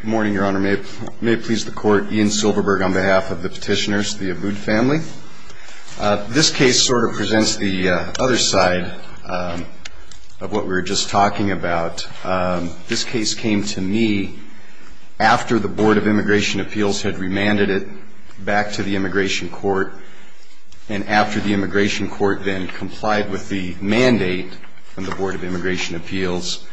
Good morning, Your Honor. May it please the Court, Ian Silverberg on behalf of the petitioners, the Aboud family. This case sort of presents the other side of what we were just talking about. This case came to me after the Board of Immigration Appeals had remanded it back to the Immigration Court. And after the Immigration Court then complied with the mandate from the Board of Immigration Appeals,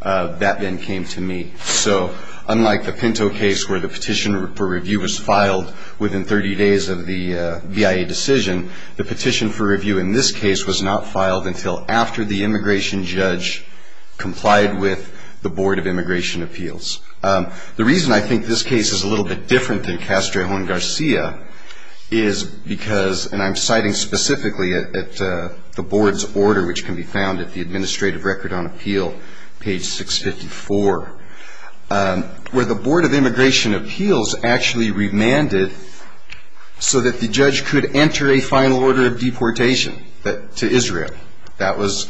that then came to me. So unlike the Pinto case where the petition for review was filed within 30 days of the BIA decision, the petition for review in this case was not filed until after the immigration judge complied with the Board of Immigration Appeals. The reason I think this case is a little bit different than Castro and Garcia is because, and I'm citing specifically at the Board's order which can be found at the Administrative Record on Appeal, page 654, where the Board of Immigration Appeals actually remanded so that the judge could enter a final order of deportation to Israel. That was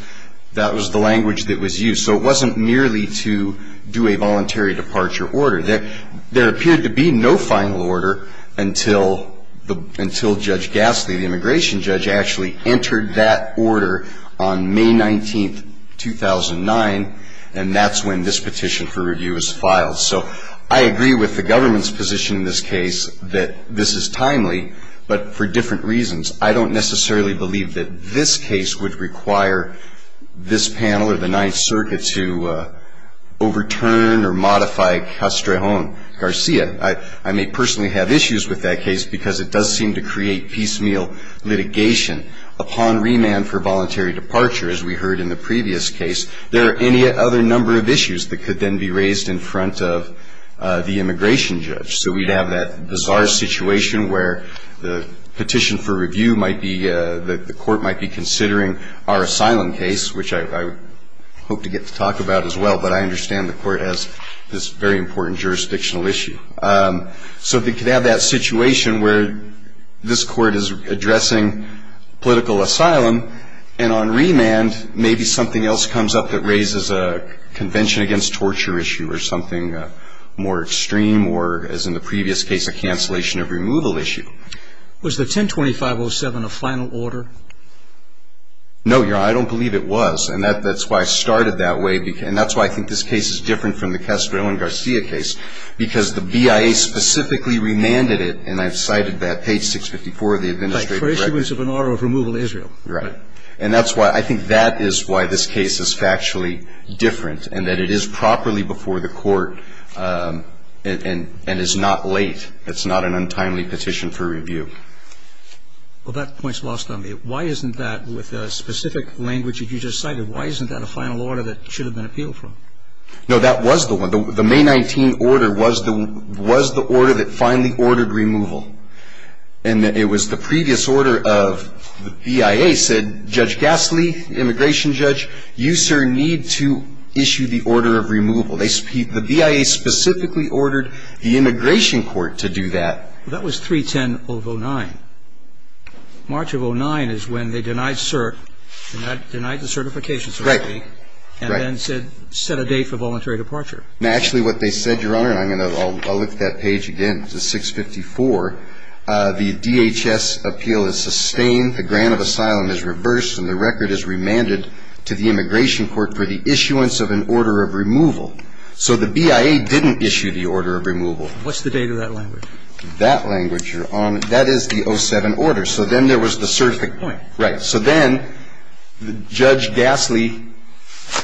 the language that was used. So it wasn't merely to do a voluntary departure order. There appeared to be no final order until Judge Gasley, the immigration judge, actually entered that order on May 19, 2009, and that's when this petition for review was filed. So I agree with the government's position in this case that this is timely, but for different reasons. I don't necessarily believe that this case would require this panel or the Ninth Circuit to overturn or modify Castro and Garcia. I may personally have issues with that case because it does seem to create piecemeal litigation. Upon remand for voluntary departure, as we heard in the previous case, there are any other number of issues that could then be raised in front of the immigration judge. So we'd have that bizarre situation where the petition for review might be, the court might be considering our asylum case, which I hope to get to talk about as well, but I understand the court has this very important jurisdictional issue. So they could have that situation where this court is addressing political asylum, and on remand maybe something else comes up that raises a convention against torture issue or something more extreme or, as in the previous case, a cancellation of removal issue. Was the 10-2507 a final order? No, Your Honor, I don't believe it was, and that's why I started that way and that's why I think this case is different from the Castro and Garcia case, because the BIA specifically remanded it, and I've cited that, page 654 of the administrative record. Right, for issuance of an order of removal to Israel. Right. And that's why I think that is why this case is factually different, and that it is properly before the court and is not late. It's not an untimely petition for review. Well, that point's lost on me. Why isn't that, with the specific language that you just cited, why isn't that a final order that should have been appealed for? No, that was the one. The May 19 order was the order that finally ordered removal, and it was the previous order of the BIA said, Judge Gasly, immigration judge, you, sir, need to issue the order of removal. The BIA specifically ordered the immigration court to do that. Well, that was 310 of 09. March of 09 is when they denied cert, denied the certification certificate. Right. And then said, set a date for voluntary departure. Actually, what they said, Your Honor, and I'll look at that page again, it's 654, the DHS appeal is sustained, the grant of asylum is reversed, and the record is remanded to the immigration court for the issuance of an order of removal. So the BIA didn't issue the order of removal. What's the date of that language? That language, Your Honor, that is the 07 order. So then there was the certificate. Point. Right. So then Judge Gasly,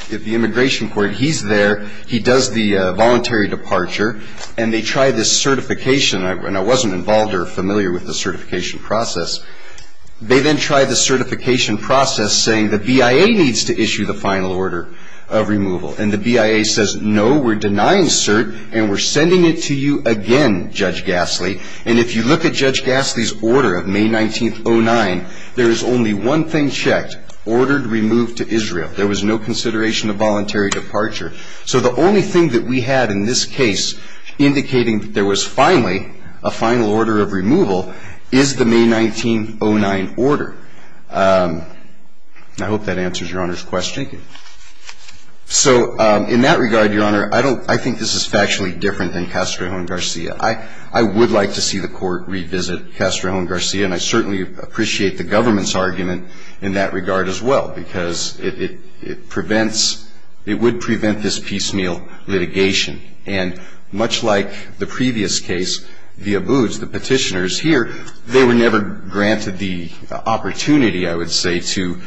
the immigration court, he's there. He does the voluntary departure, and they try this certification, and I wasn't involved or familiar with the certification process. They then try the certification process saying the BIA needs to issue the final order of removal, and the BIA says, no, we're denying cert, and we're sending it to you again, Judge Gasly. And if you look at Judge Gasly's order of May 19th, 09, there is only one thing checked, ordered removed to Israel. There was no consideration of voluntary departure. So the only thing that we had in this case indicating that there was finally a final order of removal is the May 19th, 09 order. I hope that answers Your Honor's question. Thank you. So in that regard, Your Honor, I think this is factually different than Castro-Jones-Garcia. I would like to see the court revisit Castro-Jones-Garcia, and I certainly appreciate the government's argument in that regard as well, because it prevents, it would prevent this piecemeal litigation. And much like the previous case, the abuse, the petitioners here, they were never granted the opportunity, I would say, to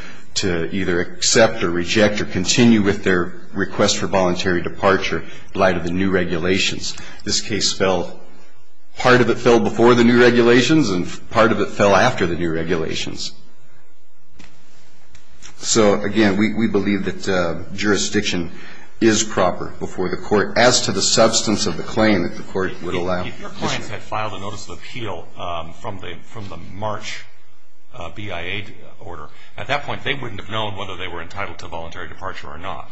either accept or reject or continue with their request for voluntary departure in light of the new regulations. This case fell, part of it fell before the new regulations, and part of it fell after the new regulations. So, again, we believe that jurisdiction is proper before the court, as to the substance of the claim that the court would allow. If your clients had filed a notice of appeal from the March BIA order, at that point they wouldn't have known whether they were entitled to voluntary departure or not.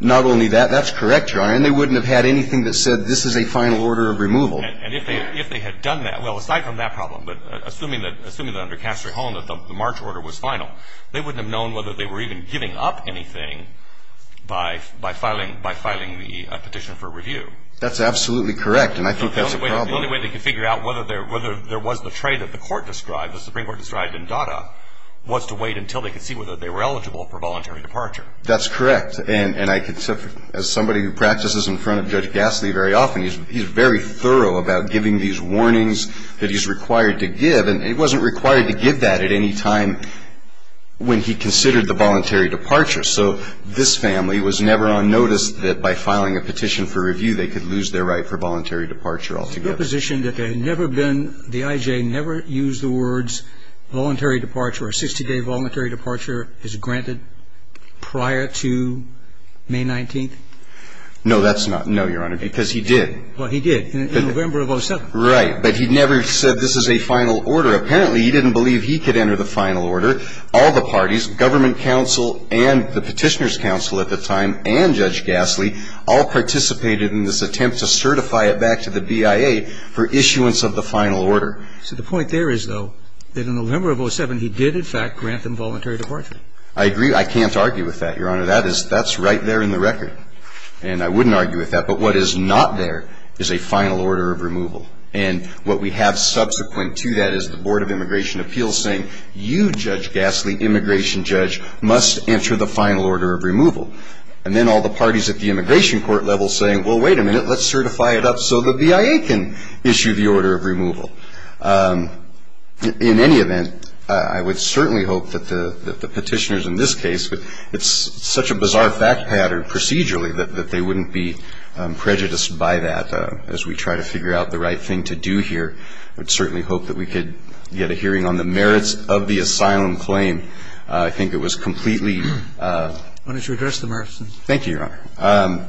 Not only that, that's correct, Your Honor, and they wouldn't have had anything that said this is a final order of removal. And if they had done that, well, aside from that problem, but assuming that under Castro-Jones that the March order was final, they wouldn't have known whether they were even giving up anything by filing the petition for review. That's absolutely correct, and I think that's a problem. The only way they could figure out whether there was the trade that the court described, the Supreme Court described in DADA, was to wait until they could see whether they were eligible for voluntary departure. That's correct, and I can tell you, as somebody who practices in front of Judge Gasley very often, he's very thorough about giving these warnings that he's required to give, and he wasn't required to give that at any time when he considered the voluntary departure. So this family was never on notice that by filing a petition for review they could lose their right for voluntary departure altogether. Is the position that there had never been, the IJ never used the words voluntary departure or 60-day voluntary departure is granted prior to May 19th? No, that's not, no, Your Honor, because he did. Well, he did in November of 07. Right, but he never said this is a final order. Apparently he didn't believe he could enter the final order. All the parties, government counsel and the petitioner's counsel at the time and Judge Gasley all participated in this attempt to certify it back to the BIA for issuance of the final order. So the point there is, though, that in November of 07 he did in fact grant them voluntary departure. I agree. I can't argue with that, Your Honor. That is, that's right there in the record. And I wouldn't argue with that. But what is not there is a final order of removal. And what we have subsequent to that is the Board of Immigration Appeals saying, you, Judge Gasley, immigration judge, must enter the final order of removal. And then all the parties at the immigration court level saying, well, wait a minute, let's certify it up so the BIA can issue the order of removal. In any event, I would certainly hope that the petitioners in this case, it's such a bizarre fact pattern procedurally that they wouldn't be prejudiced by that as we try to figure out the right thing to do here. I would certainly hope that we could get a hearing on the merits of the asylum claim. I think it was completely. Why don't you address the merits? Thank you, Your Honor.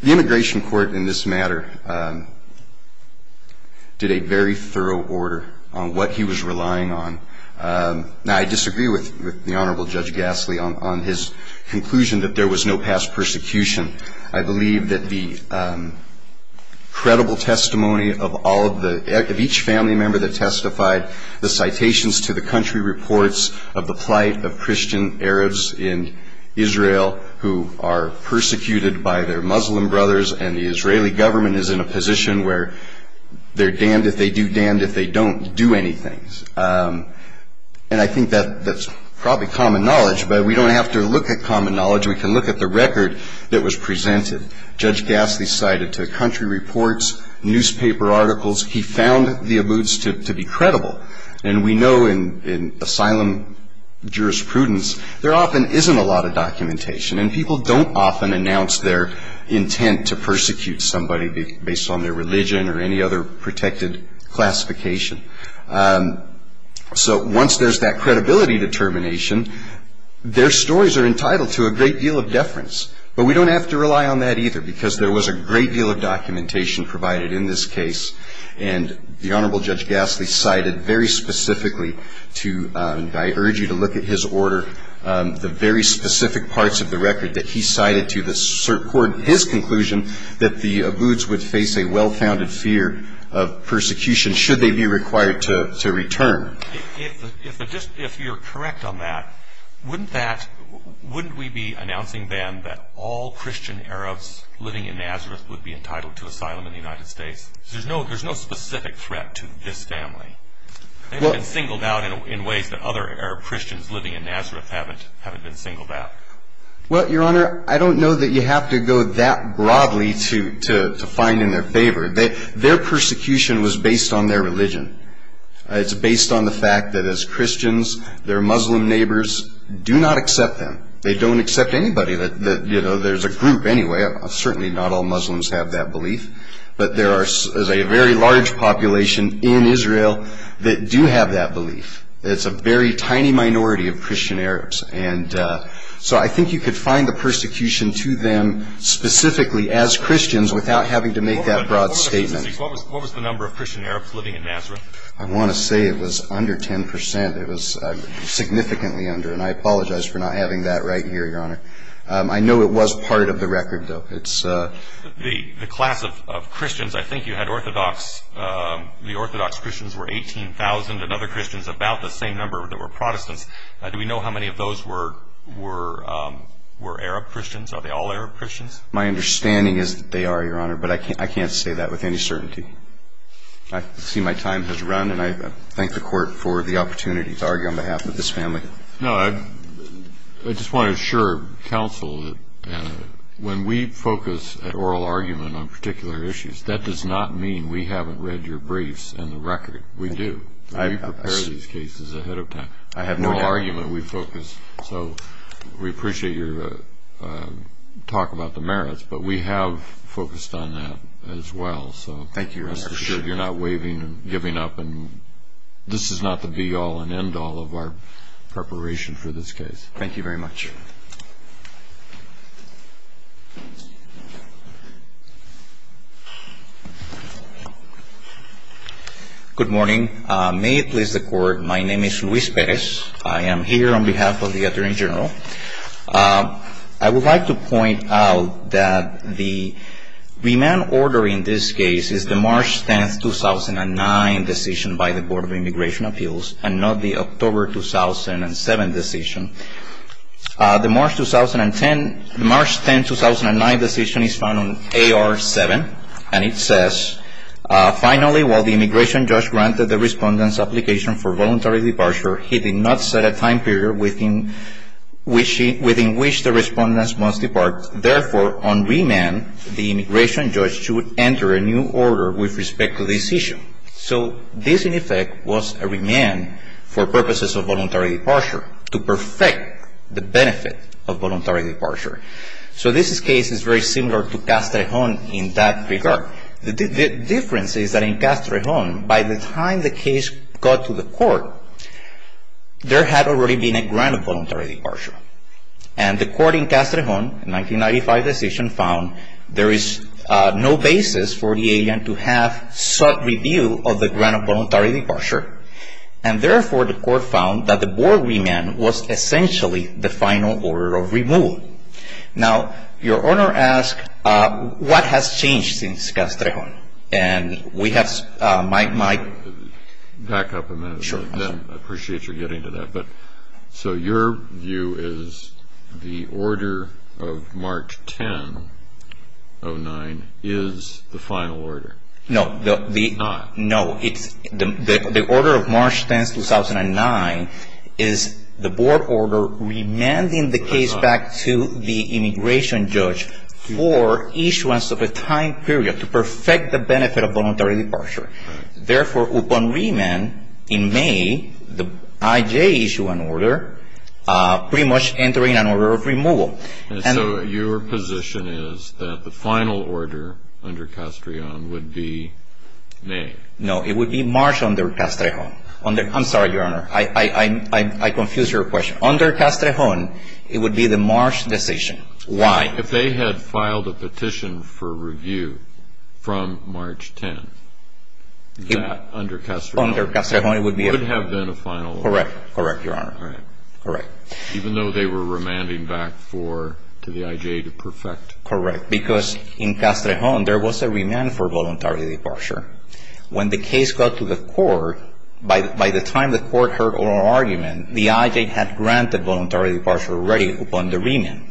The immigration court in this matter did a very thorough order on what he was relying on. Now, I disagree with the Honorable Judge Gasley on his conclusion that there was no past persecution. I believe that the credible testimony of all of the, of each family member that testified, the citations to the country reports of the plight of Christian Arabs in Israel who are persecuted by their Muslim brothers, and the Israeli government is in a position where they're damned if they do damned if they don't do anything. And I think that's probably common knowledge, but we don't have to look at common knowledge. We can look at the record that was presented. Judge Gasley cited to country reports, newspaper articles. He found the abuts to be credible, and we know in asylum jurisprudence, there often isn't a lot of documentation, and people don't often announce their intent to persecute somebody based on their religion or any other protected classification. So once there's that credibility determination, their stories are entitled to a great deal of deference. But we don't have to rely on that either, because there was a great deal of documentation provided in this case, and the Honorable Judge Gasley cited very specifically to, and I urge you to look at his order, the very specific parts of the record that he cited to the court, his conclusion that the abuts would face a well-founded fear of persecution should they be required to return. If you're correct on that, wouldn't we be announcing then that all Christian Arabs living in Nazareth would be entitled to asylum in the United States? There's no specific threat to this family. They've been singled out in ways that other Arab Christians living in Nazareth haven't been singled out. Well, Your Honor, I don't know that you have to go that broadly to find in their favor. Their persecution was based on their religion. It's based on the fact that as Christians, their Muslim neighbors do not accept them. They don't accept anybody that, you know, there's a group anyway. Certainly not all Muslims have that belief. But there is a very large population in Israel that do have that belief. It's a very tiny minority of Christian Arabs. And so I think you could find the persecution to them specifically as Christians without having to make that broad statement. What was the number of Christian Arabs living in Nazareth? I want to say it was under 10 percent. It was significantly under. And I apologize for not having that right here, Your Honor. I know it was part of the record, though. The class of Christians, I think you had Orthodox. The Orthodox Christians were 18,000 and other Christians about the same number that were Protestants. Do we know how many of those were Arab Christians? Are they all Arab Christians? My understanding is that they are, Your Honor, but I can't say that with any certainty. I see my time has run, and I thank the Court for the opportunity to argue on behalf of this family. No, I just want to assure counsel that when we focus at oral argument on particular issues, that does not mean we haven't read your briefs and the record. We do. We prepare these cases ahead of time. I have no doubt. So we appreciate your talk about the merits, but we have focused on that as well. Thank you, Your Honor. You're not waiving and giving up, and this is not the be-all and end-all of our preparation for this case. Thank you very much. Good morning. May it please the Court, my name is Luis Perez. I am here on behalf of the Attorney General. I would like to point out that the remand order in this case is the March 10, 2009, decision by the Board of Immigration Appeals and not the October 2007 decision. The March 10, 2009 decision is found on AR-7, and it says, Finally, while the immigration judge granted the respondent's application for voluntary departure, he did not set a time period within which the respondent must depart. Therefore, on remand, the immigration judge should enter a new order with respect to this issue. So this, in effect, was a remand for purposes of voluntary departure, to perfect the benefit of voluntary departure. So this case is very similar to Castrejon in that regard. The difference is that in Castrejon, by the time the case got to the Court, there had already been a grant of voluntary departure. And the Court in Castrejon, in 1995 decision, found there is no basis for the alien to have sought review of the grant of voluntary departure. And therefore, the Court found that the Board remand was essentially the final order of removal. Now, your Honor asks, what has changed since Castrejon? And we have Mike. Back up a minute. Sure. I appreciate your getting to that. So your view is the order of March 10, 2009 is the final order? No. It's not? It's not. So your position is that the final order under Castrejon would be May? No. It would be March under Castrejon. I'm sorry, Your Honor. I confused your question. And the final order would be May. If they had filed a petition for review from March 10, that under Castrejon would have been a final order? Correct. Correct, Your Honor. Correct. Even though they were remanding back to the I.J. to perfect? Correct. Because in Castrejon, there was a remand for voluntary departure. When the case got to the Court, by the time the Court heard oral argument, the I.J. had granted voluntary departure already upon the remand.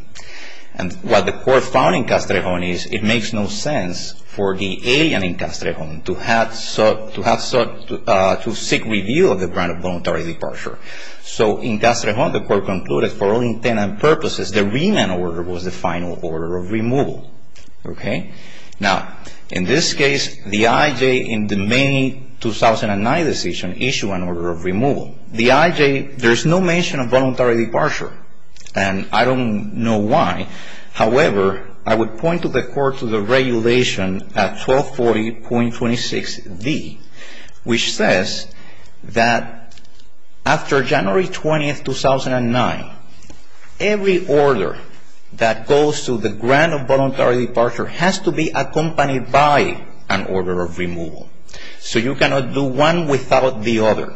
And what the Court found in Castrejon is it makes no sense for the alien in Castrejon to seek review of the grant of voluntary departure. So in Castrejon, the Court concluded for all intent and purposes, the remand order was the final order of removal. Okay? Now, in this case, the I.J. in the May 2009 decision issued an order of removal. The I.J., there's no mention of voluntary departure. And I don't know why. However, I would point to the Court's regulation at 1240.26d, which says that after January 20, 2009, every order that goes to the grant of voluntary departure has to be accompanied by an order of removal. So you cannot do one without the other.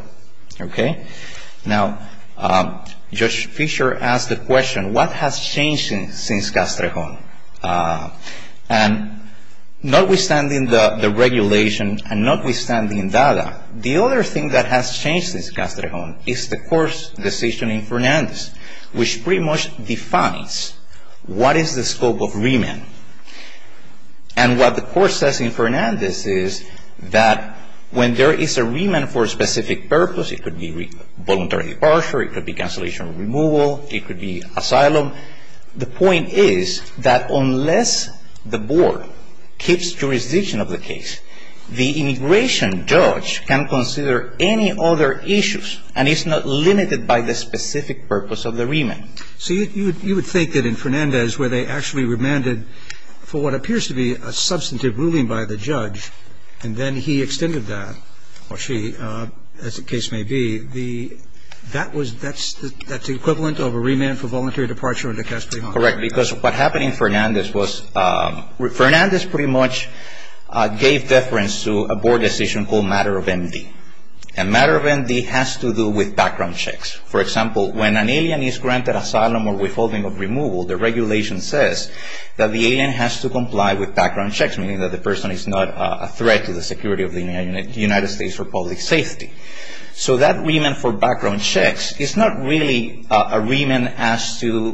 Okay? Now, Judge Fischer asked the question, what has changed since Castrejon? And notwithstanding the regulation and notwithstanding DADA, the other thing that has changed since Castrejon is the Court's decision in Fernandez, which pretty much defines what is the scope of remand. And what the Court says in Fernandez is that when there is a remand for a specific purpose, it could be voluntary departure, it could be cancellation of removal, it could be asylum. The point is that unless the Board keeps jurisdiction of the case, the immigration judge can consider any other issues and is not limited by the specific purpose of the remand. So you would think that in Fernandez where they actually remanded for what appears to be a substantive ruling by the judge and then he extended that, or she, as the case may be, that's the equivalent of a remand for voluntary departure under Castrejon? Correct. Because what happened in Fernandez was Fernandez pretty much gave deference to a Board decision called matter of MD. And matter of MD has to do with background checks. For example, when an alien is granted asylum or withholding of removal, the regulation says that the alien has to comply with background checks, meaning that the person is not a threat to the security of the United States or public safety. So that remand for background checks is not really a remand as to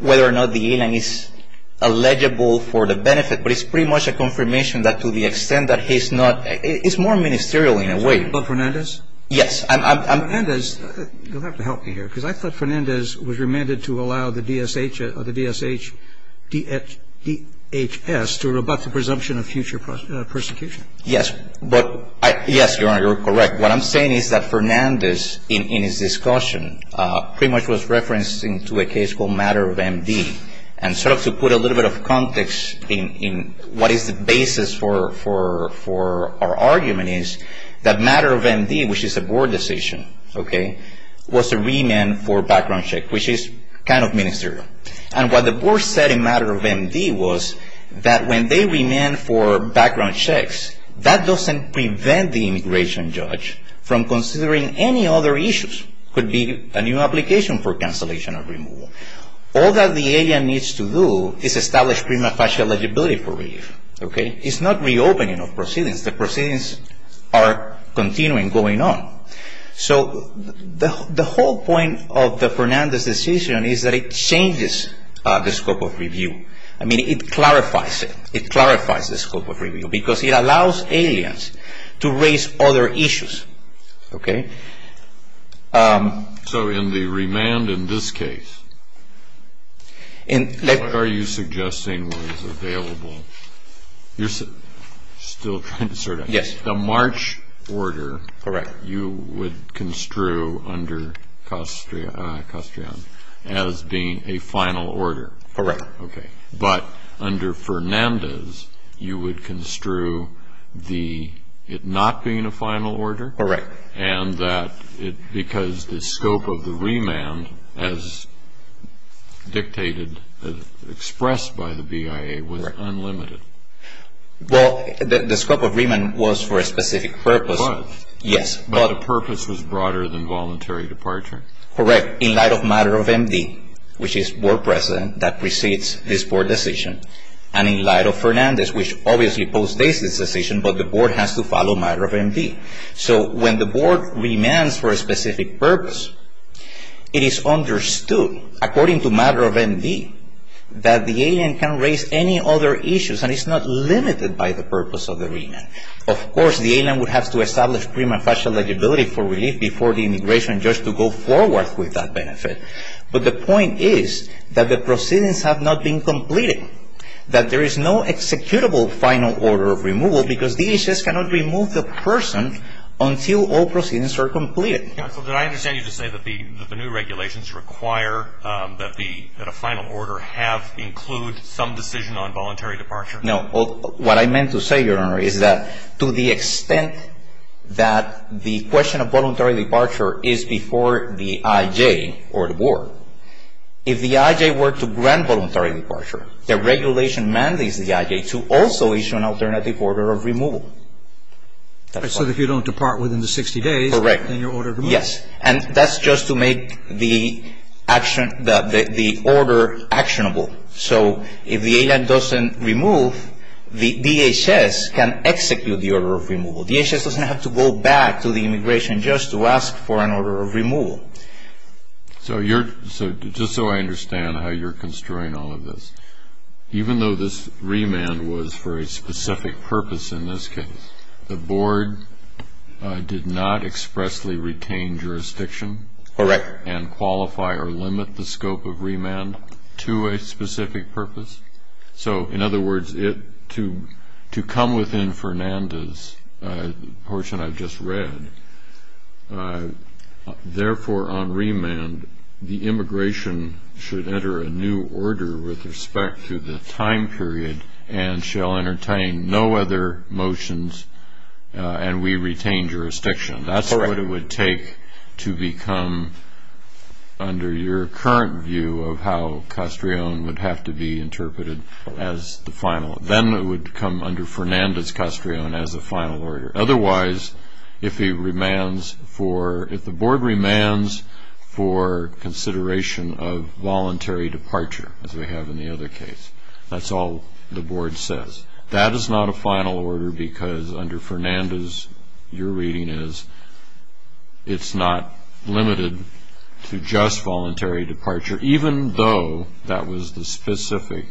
whether or not the alien is eligible for the benefit, but it's pretty much a confirmation that to the extent that he's not, it's more ministerial in a way. Can I talk about Fernandez? Yes. Fernandez, you'll have to help me here, because I thought Fernandez was remanded to allow the DSHS to rebut the presumption of future persecution. Yes. Yes, Your Honor, you're correct. What I'm saying is that Fernandez in his discussion pretty much was referencing to a case called matter of MD and sort of to put a little bit of context in what is the basis for our argument is that matter of MD, which is a board decision, okay, was a remand for background check, which is kind of ministerial. And what the board said in matter of MD was that when they remand for background checks, that doesn't prevent the immigration judge from considering any other issues, could be a new application for cancellation of removal. All that the alien needs to do is establish prima facie eligibility for relief, okay? It's not reopening of proceedings. The proceedings are continuing, going on. So the whole point of the Fernandez decision is that it changes the scope of review. I mean, it clarifies it. It clarifies the scope of review, because it allows aliens to raise other issues, okay? So in the remand in this case, what are you suggesting was available? You're still trying to sort out. Yes. The March order. Correct. You would construe under Castrian as being a final order. Correct. Okay. But under Fernandez, you would construe it not being a final order. Correct. And that because the scope of the remand, as dictated, expressed by the BIA, was unlimited. Well, the scope of remand was for a specific purpose. It was. Yes. But the purpose was broader than voluntary departure. Correct. In light of matter of MD, which is board precedent that precedes this board decision, and in light of Fernandez, which obviously postdates this decision, but the board has to follow matter of MD. So when the board remands for a specific purpose, it is understood, according to matter of MD, that the alien can raise any other issues, and it's not limited by the purpose of the remand. Of course, the alien would have to establish prima facie eligibility for relief before the immigration judge to go forward with that benefit. But the point is that the proceedings have not been completed, that there is no executable final order of removal, because DHS cannot remove the person until all proceedings are completed. Counsel, did I understand you to say that the new regulations require that a final order have included some decision on voluntary departure? No. What I meant to say, Your Honor, is that to the extent that the question of voluntary departure is before the IJ or the board, if the IJ were to grant voluntary departure, the regulation mandates the IJ to also issue an alternative order of removal. So if you don't depart within the 60 days, then you're ordered to move? Correct. Yes. And that's just to make the order actionable. So if the alien doesn't remove, the DHS can execute the order of removal. DHS doesn't have to go back to the immigration judge to ask for an order of removal. So just so I understand how you're construing all of this, even though this remand was for a specific purpose in this case, the board did not expressly retain jurisdiction? Correct. And qualify or limit the scope of remand to a specific purpose? So, in other words, to come within Fernanda's portion I've just read, therefore on remand the immigration should enter a new order with respect to the time period and shall entertain no other motions and we retain jurisdiction. Correct. That's what it would take to become, under your current view, of how Castrillon would have to be interpreted as the final. Then it would come under Fernanda's Castrillon as a final order. Otherwise, if the board remands for consideration of voluntary departure, as we have in the other case, that's all the board says. That is not a final order because under Fernanda's your reading is it's not limited to just voluntary departure, even though that was the specific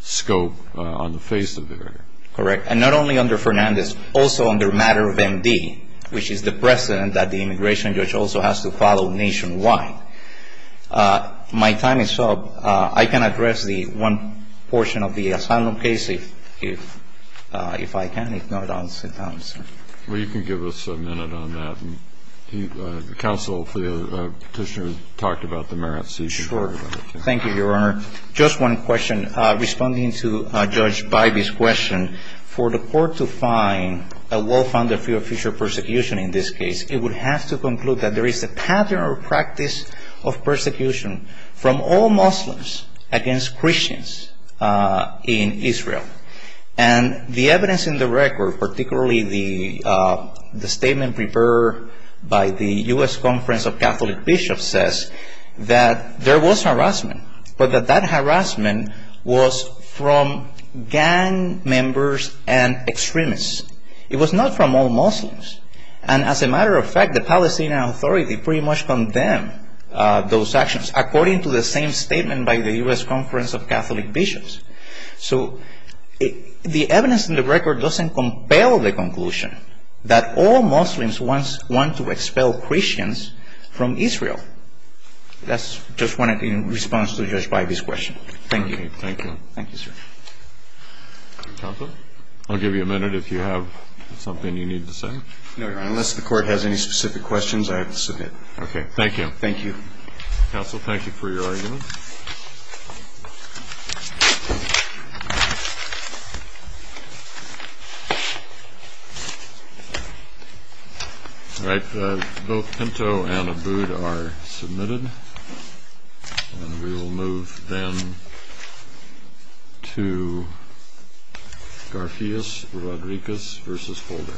scope on the face of the matter. Correct. And not only under Fernanda's, also under matter of MD, which is the precedent that the immigration judge also has to follow nationwide. My time is up. I can address the one portion of the asylum case if I can, if not I'll sit down, sir. Well, you can give us a minute on that. Counsel, the Petitioner, talked about the merits. Sure. Thank you, Your Honor. Just one question. Responding to Judge Bybee's question, for the court to find a law found a fear of future persecution in this case, it would have to conclude that there is a pattern or practice of persecution from all Muslims against Christians in Israel. And the evidence in the record, particularly the statement prepared by the U.S. Conference of Catholic Bishops, says that there was harassment, but that that harassment was from gang members and extremists. It was not from all Muslims. And as a matter of fact, the Palestinian Authority pretty much condemned those actions, according to the same statement by the U.S. Conference of Catholic Bishops. So the evidence in the record doesn't compel the conclusion that all Muslims want to expel Christians from Israel. That's just one response to Judge Bybee's question. Thank you. Thank you, sir. Counsel, I'll give you a minute if you have something you need to say. No, Your Honor. Unless the court has any specific questions, I have to submit. Okay. Thank you. Thank you. Counsel, thank you for your argument. All right. Both Pinto and Abood are submitted. And we will move then to Garfious Rodriguez v. Holder.